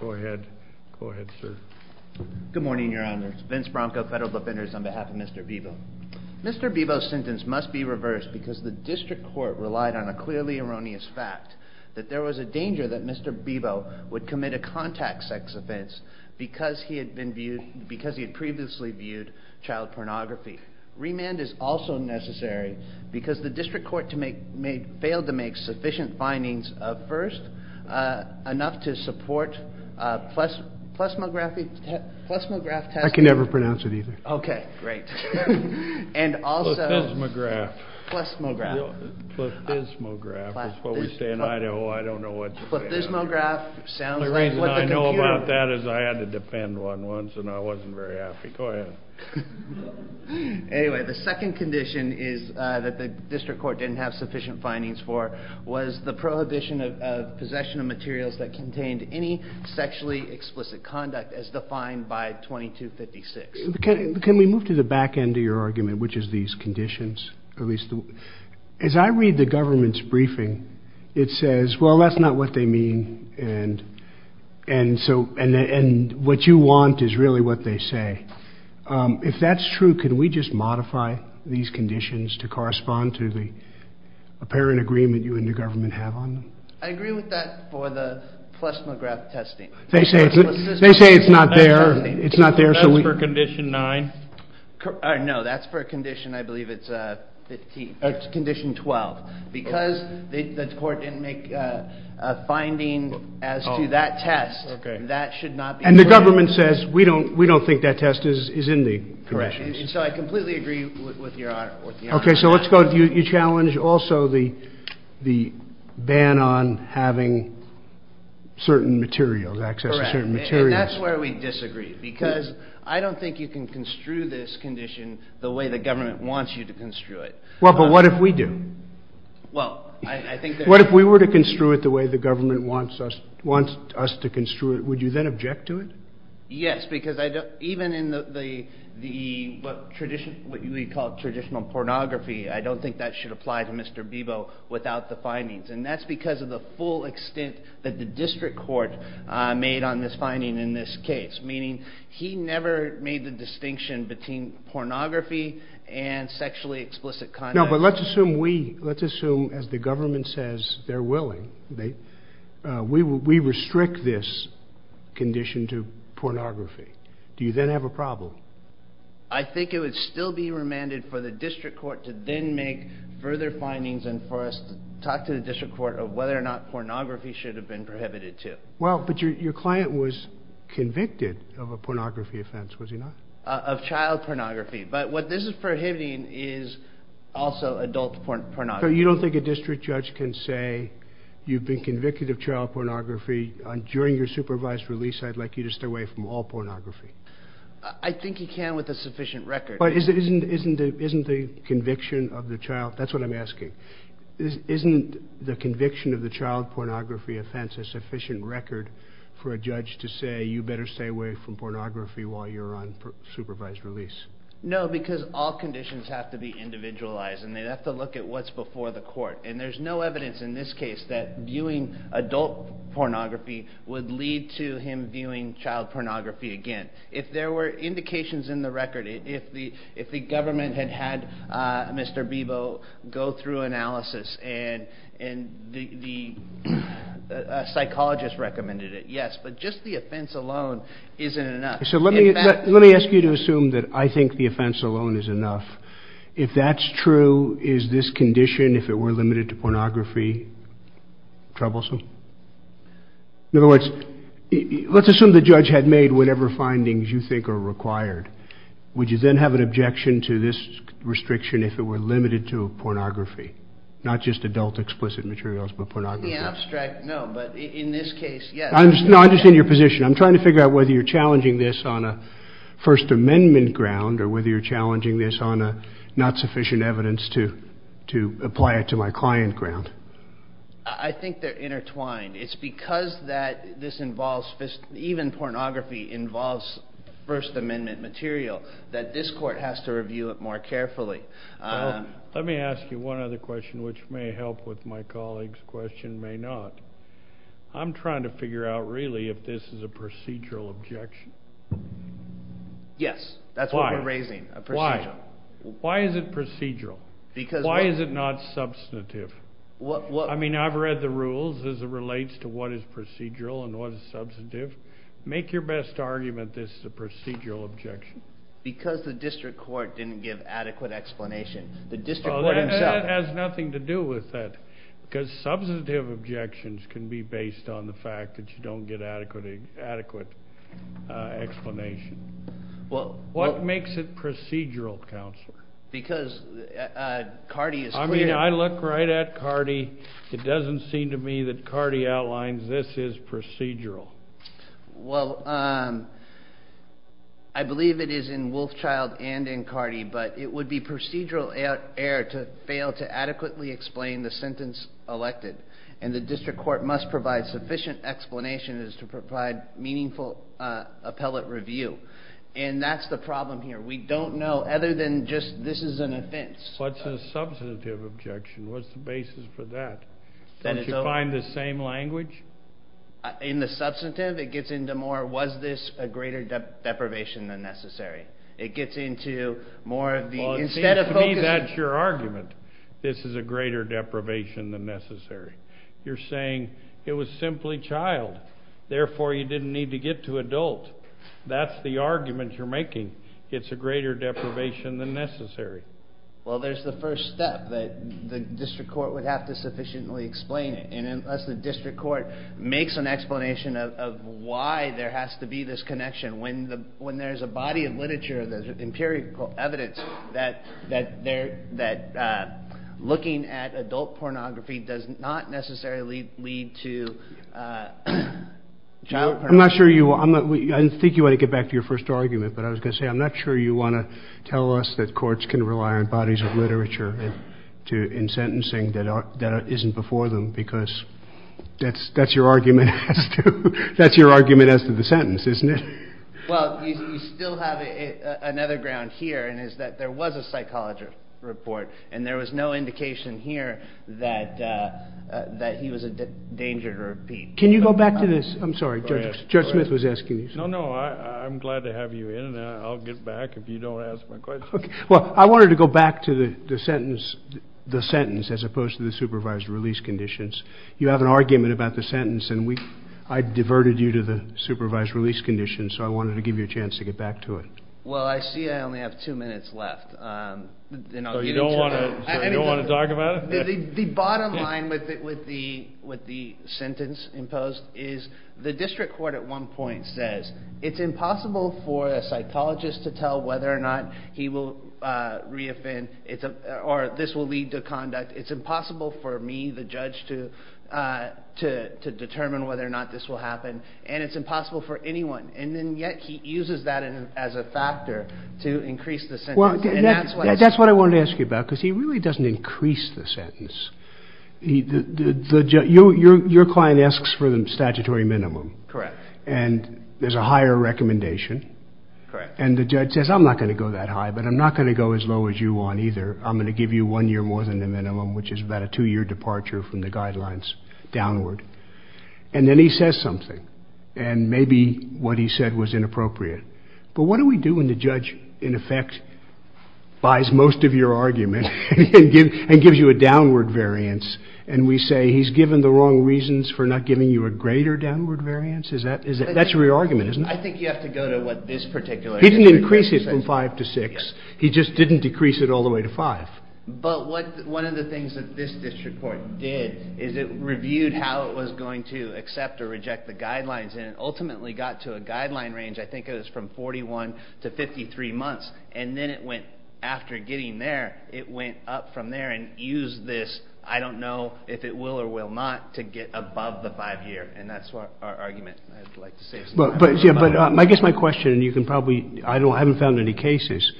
Go ahead, sir. Good morning, Your Honor. Vince Bronco, Federal Defenders, on behalf of Mr. Bibo. Mr. Bibo's sentence must be reversed, because the District Court relied on a clearly erroneous fact that there was a danger that Mr. Bibo would commit a contact sex offense because he had previously viewed child pornography. Remand is also necessary because the District Court failed to make sufficient findings of first enough to support a plethysmography, plethysmograph test. I can never pronounce it either. Okay, great. And also... Plethysmograph. Plethysmograph. Plethysmograph is what we say in Idaho. I don't know what you're saying. Plethysmograph sounds like what the computer... The only reason I know about that is I had to defend one once and I wasn't very happy. Go ahead. Anyway, the second condition is that the District Court didn't have sufficient findings for was the prohibition of possession of materials that contained any sexually explicit conduct as defined by 2256. Can we move to the back end of your argument, which is these conditions? At least, as I read the government's briefing, it says, well, that's not what they mean. And so, and what you want is really what they say. If that's true, can we just modify these conditions to correspond to the apparent agreement that you and the government have on them? I agree with that for the plethysmograph testing. They say it's not there. That's for condition nine? No, that's for condition, I believe it's 15, condition 12. Because the court didn't make a finding as to that test, that should not be... And the government says, we don't think that test is in the corrections. So I completely agree with your argument. Okay, so let's go, you challenge also the ban on having certain materials, access to certain materials. Correct, and that's where we disagree, because I don't think you can construe this condition the way the government wants you to construe it. Well, but what if we do? Well, I think that... What if we were to construe it the way the government wants us to construe it, would you then object to it? Yes, because even in what we call traditional pornography, I don't think that should apply to Mr. Bebo without the findings. And that's because of the full extent that the district court made on this finding in this case, meaning he never made the distinction between pornography and sexually explicit conduct. No, but let's assume we, let's assume as the government says they're willing, we restrict this condition to pornography, do you then have a problem? I think it would still be remanded for the district court to then make further findings and for us to talk to the district court of whether or not pornography should have been prohibited too. Well, but your client was convicted of a pornography offense, was he not? Of child pornography, but what this is prohibiting is also adult pornography. So you don't think a district judge can say you've been convicted of child pornography and during your supervised release I'd like you to stay away from all pornography? I think he can with a sufficient record. But isn't the conviction of the child, that's what I'm asking, isn't the conviction of the child pornography offense a sufficient record for a judge to say you better stay away from pornography while you're on supervised release? No, because all conditions have to be individualized and they'd have to look at what's before the court. And there's no evidence in this case that viewing adult pornography would lead to him viewing child pornography again. If there were indications in the record, if the government had had Mr. Bebo go through analysis and the psychologist recommended it, yes, but just the offense alone isn't enough. So let me ask you to assume that I think the offense alone is enough. If that's true, is this condition, if it were limited to pornography, troublesome? In other words, let's assume the judge had made whatever findings you think are required. Would you then have an objection to this restriction if it were limited to pornography? Not just adult explicit materials, but pornography? In the abstract, no, but in this case, yes. No, I understand your position. I'm trying to figure out whether you're challenging this on a First Amendment ground or whether you're challenging this on a not sufficient evidence to apply it to my client ground. I think they're intertwined. It's because that this involves, even pornography involves First Amendment material that this court has to review it more carefully. Let me ask you one other question, which may help with my colleague's question, may not. I'm trying to figure out, really, if this is a procedural objection. Yes, that's what we're raising, a procedural. Why is it procedural? Why is it not substantive? I've read the rules as it relates to what is procedural and what is substantive. Make your best argument this is a procedural objection. Because the district court didn't give adequate explanation. That has nothing to do with that because substantive objections can be based on the fact that you don't get adequate explanation. What makes it procedural, Counselor? Because Cardi is clear. I mean, I look right at Cardi. It doesn't seem to me that Cardi outlines this is procedural. Well, I believe it is in Wolfchild and in Cardi, but it would be procedural error to fail to adequately explain the sentence elected. And the district court must provide sufficient explanation as to provide meaningful appellate review. And that's the problem here. We don't know, other than just this is an offense. What's a substantive objection? What's the basis for that? Don't you find the same language? In the substantive, it gets into more, was this a greater deprivation than necessary? It gets into more of the, instead of focusing. To me, that's your argument. This is a greater deprivation than necessary. You're saying it was simply child. Therefore, you didn't need to get to adult. That's the argument you're making. It's a greater deprivation than necessary. Well, there's the first step that the district court would have to sufficiently explain it. And unless the district court makes an explanation of why there has to be this connection, when there's a body of literature, there's empirical evidence that looking at adult pornography does not necessarily lead to child pornography. I'm not sure you, I didn't think you wanted to get back to your first argument, but I was going to say I'm not sure you want to tell us that courts can rely on bodies of literature in sentencing that isn't before them because that's your argument as to the sentence, isn't it? Well, you still have another ground here and it's that there was a psychologist report and there was no indication here that he was a danger to repeat. Can you go back to this? I'm sorry, Judge Smith was asking you. No, no, I'm glad to have you in and I'll get back if you don't ask my question. Well, I wanted to go back to the sentence as opposed to the supervised release conditions. You have an argument about the sentence and I diverted you to the supervised release conditions, so I wanted to give you a chance to get back to it. Well, I see I only have two minutes left. So you don't want to talk about it? The bottom line with the sentence imposed is the district court at one point says it's impossible for a psychologist to tell whether or not he will re-offend or this will lead to conduct. It's impossible for me, the judge, to determine whether or not this will happen and it's impossible for anyone and yet he uses that as a factor to increase the sentence. That's what I wanted to ask you about because he really doesn't increase the sentence. Your client asks for the statutory minimum and there's a higher recommendation and the judge says I'm not going to go that high but I'm not going to go as low as you want either. I'm going to give you one year more than the minimum which is about a two-year departure from the guidelines downward and then he says something and maybe what he said was inappropriate but what do we do when the judge in effect buys most of your argument and gives you a downward variance and we say he's given the wrong reasons for not giving you a greater downward variance? That's your argument, isn't it? I think you have to go to what this particular district court says. He didn't increase it from five to six. He just didn't decrease it all the way to five. But one of the things that this district court did is it reviewed how it was going to accept or reject the guidelines and it ultimately got to a guideline range. I think it was from 41 to 53 months and then it went after getting there, it went up from there and used this I don't know if it will or will not to get above the five-year and that's our argument I'd like to say. But I guess my question and you can probably, I haven't found any cases.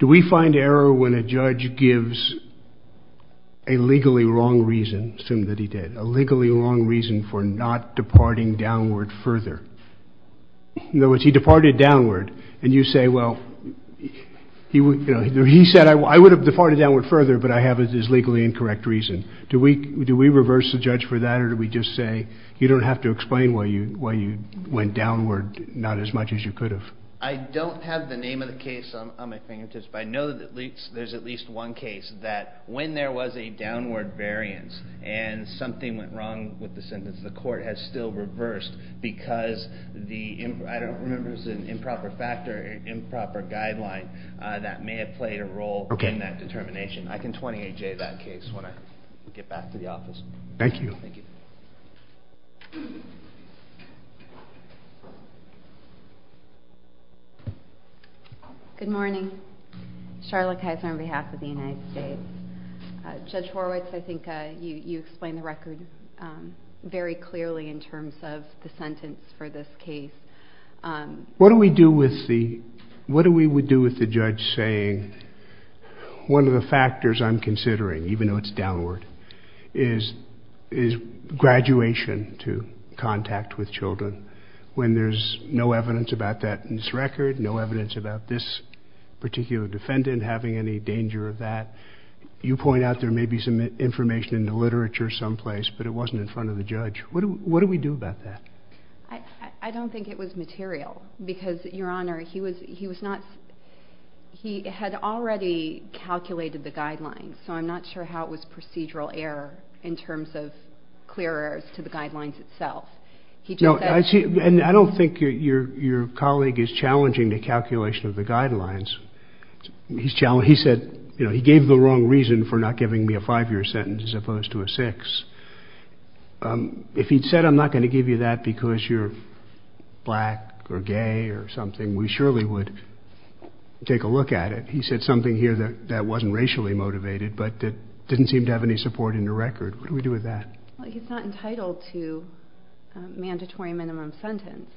Do we find error when a judge gives a legally wrong reason, assume that he did, a legally wrong reason for not departing downward further? In other words, he departed downward and you say, well, he said I would have departed downward further but I have this legally incorrect reason. Do we reverse the judge for that or do we just say you don't have to explain why you went downward not as much as you could have? I don't have the name of the case on my fingertips but I know that there's at least one case that when there was a downward variance and something went wrong with the sentence, the court has still reversed because the, I don't remember if it was an improper factor or improper guideline that may have played a role in that determination. I can 28-J that case when I get back to the office. Thank you. Thank you. Good morning. Charlotte Kaiser on behalf of the United States. Judge Horowitz, I think you explained the record very clearly in terms of the sentence for this case. What do we do with the, what do we do with the judge saying one of the factors I'm considering, even though it's downward, is graduation to contact with children when there's no evidence about that in this record, no evidence about this particular defendant having any danger of that. You point out there may be some information in the literature someplace but it wasn't in front of the judge. What do we do about that? I don't think it was material because, Your Honor, he was not, he had already calculated the guidelines so I'm not sure how it was procedural error in terms of clear errors to the guidelines itself. He just said- No, I see, and I don't think your colleague is challenging the calculation of the guidelines. He said, you know, he gave the wrong reason for not giving me a five-year sentence as opposed to a six. If he'd said I'm not going to give you that because you're black or gay or something, we surely would take a look at it. He said something here that wasn't racially motivated but that didn't seem to have any support in the record. What do we do with that? Well, he's not entitled to a mandatory minimum sentence.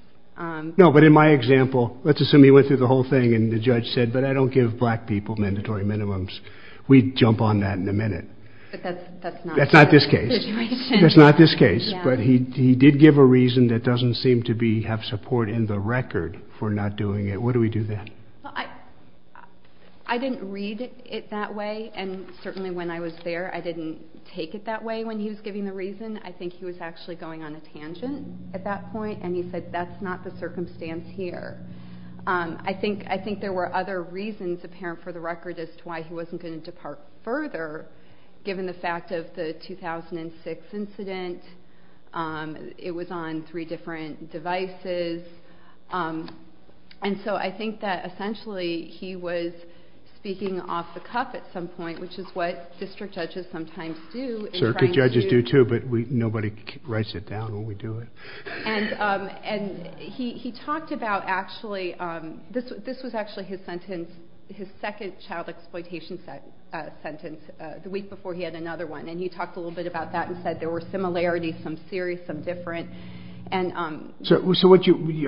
No, but in my example, let's assume he went through the whole thing and the judge said but I don't give black people mandatory minimums. We'd jump on that in a minute. But that's not- That's not this case. That's not this case. But he did give a reason that doesn't seem to be, have support in the record for not doing it. What do we do then? Well, I didn't read it that way and certainly when I was there I didn't take it that way but when he was giving the reason, I think he was actually going on a tangent at that point and he said that's not the circumstance here. I think there were other reasons apparent for the record as to why he wasn't going to depart further given the fact of the 2006 incident. It was on three different devices and so I think that essentially he was speaking off the cuff at some point which is what district judges sometimes do in trying to- Circuit judges do too but nobody writes it down when we do it. And he talked about actually, this was actually his sentence, his second child exploitation sentence the week before he had another one and he talked a little bit about that and said there were similarities, some serious, some different. So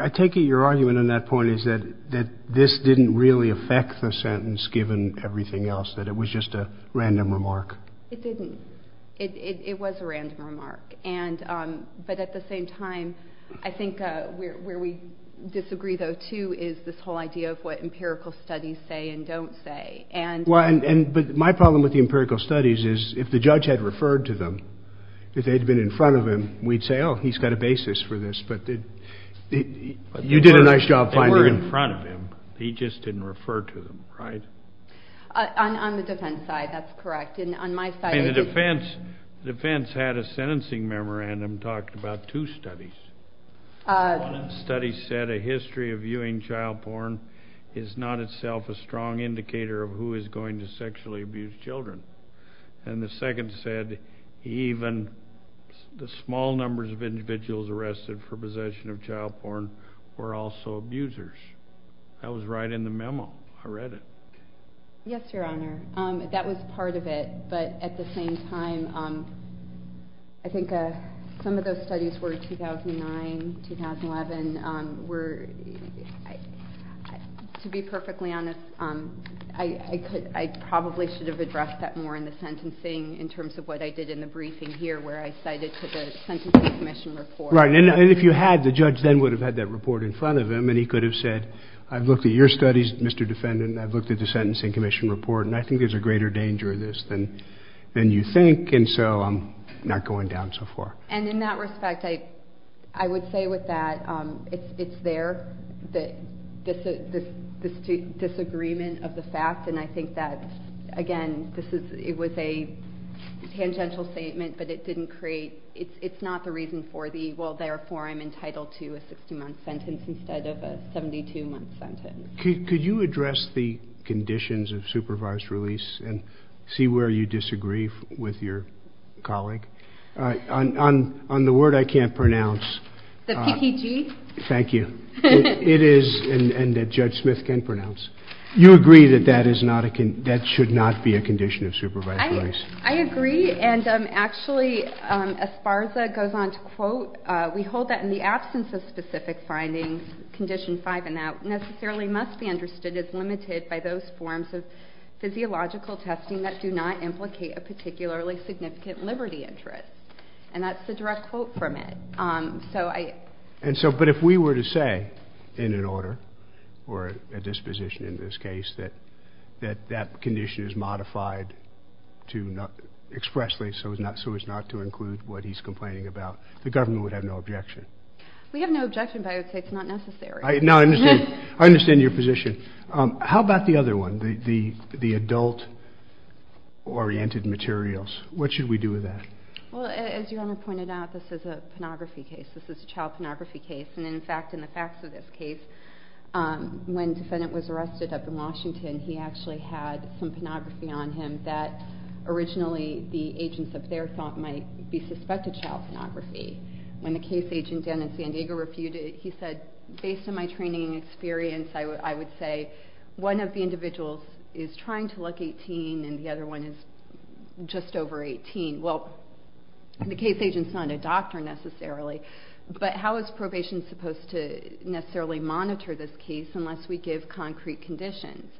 I take it your argument on that point is that this didn't really affect the sentence given everything else, that it was just a random remark. It didn't. It was a random remark but at the same time I think where we disagree though too is this whole idea of what empirical studies say and don't say and- Well, but my problem with the empirical studies is if the judge had referred to them, if they'd been in front of him, we'd say, oh, he's got a basis for this but you did a nice job finding- They were in front of him, he just didn't refer to them, right? On the defense side, that's correct. And on my side- In the defense, the defense had a sentencing memorandum talking about two studies. One of the studies said a history of viewing child porn is not itself a strong indicator of who is going to sexually abuse children. And the second said even the small numbers of individuals arrested for possession of child porn were also abusers. That was right in the memo. I read it. Yes, Your Honor. That was part of it but at the same time, I think some of those studies were 2009, 2011 were, to be perfectly honest, I probably should have addressed that more in the sentencing in terms of what I did in the briefing here where I cited to the Sentencing Commission report. Right. And if you had, the judge then would have had that report in front of him and he could have said, I've looked at your studies, Mr. Defendant, I've looked at the Sentencing Commission report and I think there's a greater danger of this than you think and so I'm not going down so far. And in that respect, I would say with that, it's there, this disagreement of the fact and I think that, again, this is, it was a tangential statement but it didn't create, it's not the reason for the, well, therefore, I'm entitled to a 60-month sentence instead of a 72-month sentence. Could you address the conditions of supervised release and see where you disagree with your colleague? On the word I can't pronounce. The PPG? Thank you. It is, and Judge Smith can pronounce. You agree that that is not a, that should not be a condition of supervised release? I agree and actually, as FARSA goes on to quote, we hold that in the absence of specific findings, Condition 5 and out necessarily must be understood as limited by those forms of physiological testing that do not implicate a particularly significant liberty interest. And that's the direct quote from it. So I. And so, but if we were to say in an order or a disposition in this case that that condition is modified to expressly so as not to include what he's complaining about, the government would have no objection. We have no objection, but I would say it's not necessary. I, no, I understand, I understand your position. How about the other one, the adult-oriented materials? What should we do with that? Well, as Your Honor pointed out, this is a pornography case. This is a child pornography case. And in fact, in the facts of this case, when the defendant was arrested up in Washington, he actually had some pornography on him that originally the agents of their thought might be suspected child pornography. When the case agent down in San Diego refuted it, he said, based on my training and experience, I would say one of the individuals is trying to look 18 and the other one is just over 18. Well, the case agent's not a doctor necessarily, but how is probation supposed to necessarily monitor this case unless we give concrete conditions?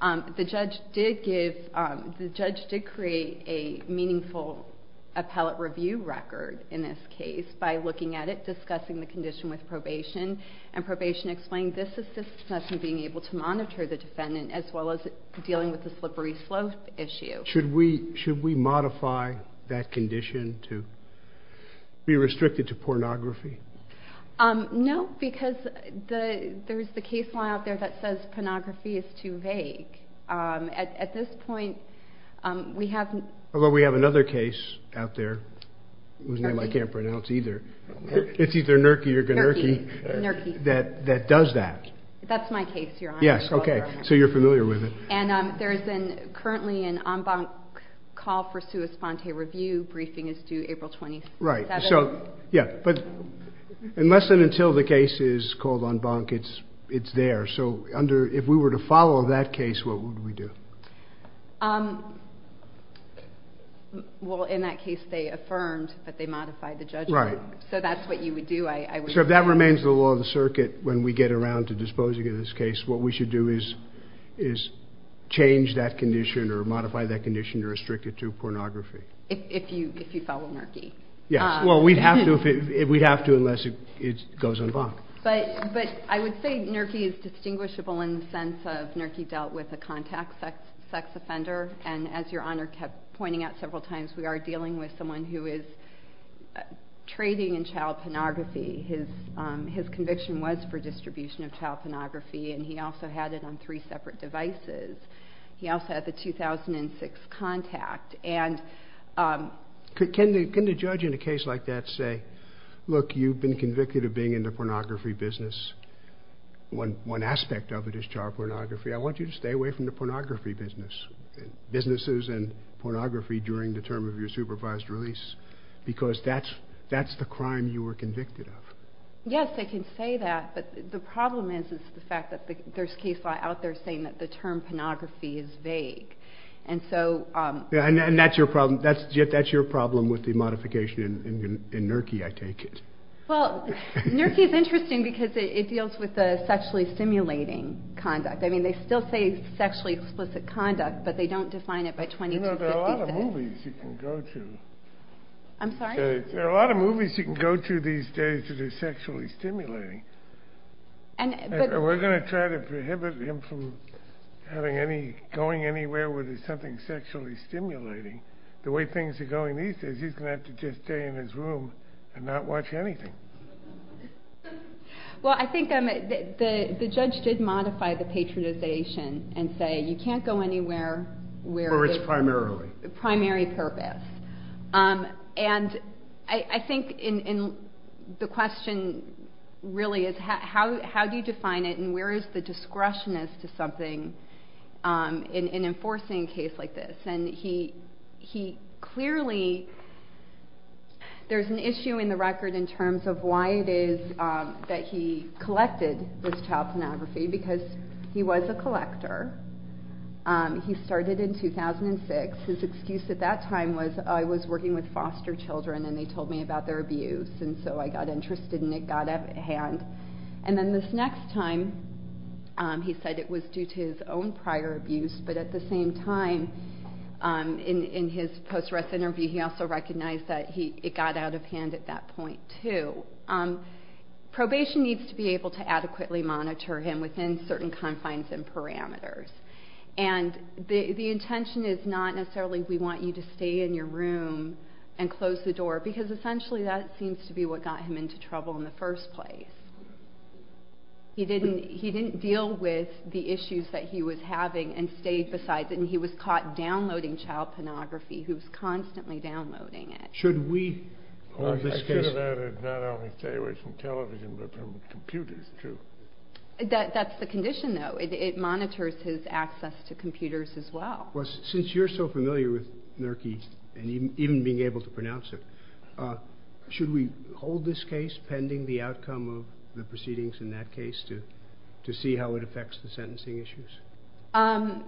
The judge did give, the judge did create a meaningful appellate review record in this case by looking at it, discussing the condition with probation. And probation explained this assists us in being able to monitor the defendant as well as dealing with the slippery slope issue. Should we, should we modify that condition to be restricted to pornography? No, because the, there's the case law out there that says pornography is too vague. At this point, we haven't. Well, we have another case out there whose name I can't pronounce either. It's either Nurki or Gnurki that, that does that. That's my case, Your Honor. Yes, okay, so you're familiar with it. And there is currently an en banc call for sua sponte review. Briefing is due April 27th. Right, so, yeah, but unless and until the case is called en banc, it's, it's there. So under, if we were to follow that case, what would we do? Well, in that case, they affirmed that they modified the judgment. Right. So that's what you would do, I would say. So if that remains the law of the circuit when we get around to disposing of this case, what we should do is, is change that condition or modify that condition to restrict it to pornography. If you, if you follow Nurki. Yes, well, we'd have to if it, we'd have to unless it, it goes en banc. But, but I would say Nurki is distinguishable in the sense of Nurki dealt with a contact sex, sex offender. And as Your Honor kept pointing out several times, we are dealing with someone who is trading in child pornography. His, his conviction was for distribution of child pornography. And he also had it on three separate devices. He also had the 2006 contact. And can the, can the judge in a case like that say, look, you've been convicted of being in the pornography business. One, one aspect of it is child pornography. I want you to stay away from the pornography business, businesses and pornography during the term of your supervised release. Because that's, that's the crime you were convicted of. Yes, I can say that. But the problem is, is the fact that there's case law out there saying that the term pornography is vague. And so, um, and that's your problem. That's Jeff, that's your problem with the modification in, in, in Nurki, I take it. Well, Nurki is interesting because it deals with the sexually stimulating conduct. I mean, they still say sexually explicit conduct, but they don't define it by 20. I'm sorry, there are a lot of movies you can go to these days that are sexually stimulating. And we're going to try to prohibit him from having any going anywhere where there's something sexually stimulating. The way things are going these days, he's going to have to just stay in his room and not watch anything. Well, I think, um, the, the, the judge did modify the patronization and say, you can't go anywhere where it's primarily primary purpose. Um, and I think in, in the question really is how, how, how do you define it? And where is the discretion as to something, um, in, in enforcing a case like this? And he, he clearly, there's an issue in the record in terms of why it is, um, that he collected with child pornography because he was a collector. Um, he started in 2006. His excuse at that time was I was working with foster children and they told me about their abuse. And so I got interested in it, got up at hand. And then this next time, um, he said it was due to his own prior abuse. But at the same time, um, in, in his post-arrest interview, he also recognized that he, it got out of hand at that point too. Um, probation needs to be able to adequately monitor him within certain confines and parameters. And the intention is not necessarily we want you to stay in your room and close the door because essentially that seems to be what got him into trouble in the first place. He didn't, he didn't deal with the issues that he was having and stayed besides it. And he was caught downloading child pornography. Who's constantly downloading it. Should we hold this case? I should have added not only stay away from television, but from computers too. That, that's the condition though. It, it monitors his access to computers as well. Well, since you're so familiar with NERCI and even being able to pronounce it, uh, should we hold this case pending the outcome of the proceedings in that case to, to see how it affects the sentencing issues? Um,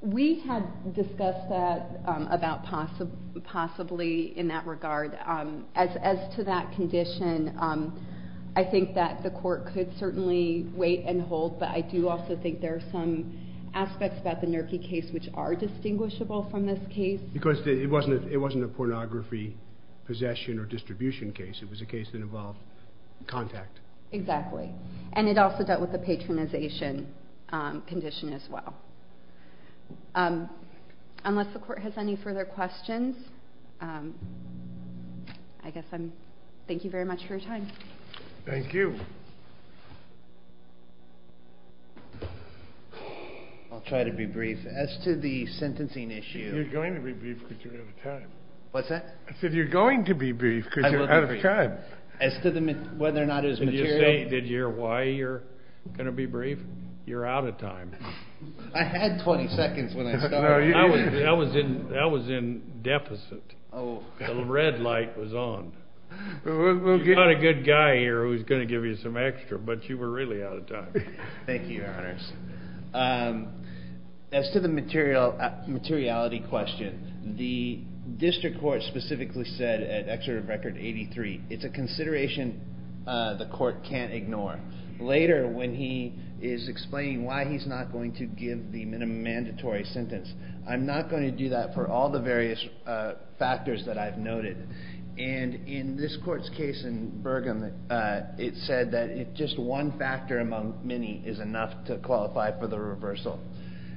we had discussed that, um, about possibly, possibly in that regard. Um, as, as to that condition, um, I think that the court could certainly wait and hold, but I do also think there are some aspects about the NERCI case which are distinguishable from this case. Because it wasn't, it wasn't a pornography possession or distribution case. It was a case that involved contact. Exactly. And it also dealt with the patronization, um, condition as well. Um, unless the court has any further questions, um, I guess I'm, thank you very much for your time. Thank you. I'll try to be brief as to the sentencing issue. You're going to be brief because you're out of time. What's that? I said, you're going to be brief because you're out of time. As to the, whether or not it was material. Did you hear why you're going to be brief? You're out of time. I had 20 seconds when I started. I was in, I was in deficit. Oh, the red light was on. We'll get a good guy here who's going to give you some extra, but you were really out of time. Thank you, your honors. Um, as to the material, uh, materiality question, the district court specifically said at excerpt of record 83, it's a consideration. Uh, the court can't ignore later when he is explaining why he's not going to give the minimum mandatory sentence. I'm not going to do that for all the various, uh, factors that I've noted. And in this court's case in Bergen, uh, it said that if just one factor among many is enough to qualify for the reversal.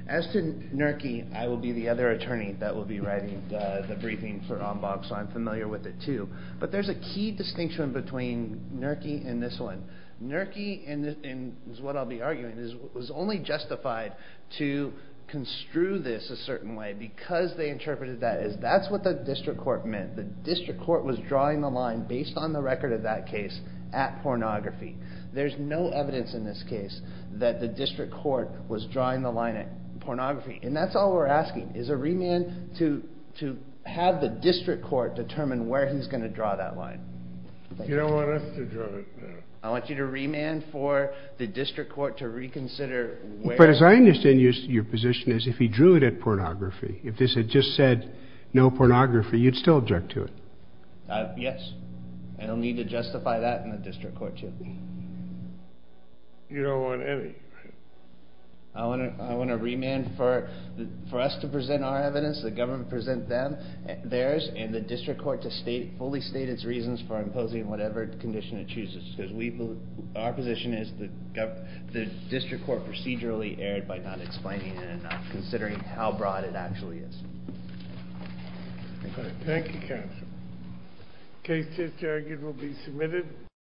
As to NERCY, I will be the other attorney that will be writing the briefing for on box, so I'm familiar with it too, but there's a key distinction between NERCY and this one. NERCY is what I'll be arguing is was only justified to construe this a certain way because they interpreted that as that's what the district court meant. The district court was drawing the line based on the record of that case at pornography. There's no evidence in this case that the district court was drawing the line at pornography. And that's all we're asking is a remand to, to have the district court determine where he's going to draw that line. You don't want us to draw it. I want you to remand for the district court to reconsider. But as I understand your position is if he drew it at pornography, if this had just said no pornography, you'd still object to it. Uh, yes. And I'll need to justify that in the district court too. You don't want any. I want to, I want to remand for, for us to present our evidence, the government present them, theirs, and the district court to state, fully state its reasons for imposing whatever condition it chooses, because we, our position is that the district court procedurally erred by not explaining it enough, considering how broad it actually is. Thank you counsel. Case 10-10 will be submitted.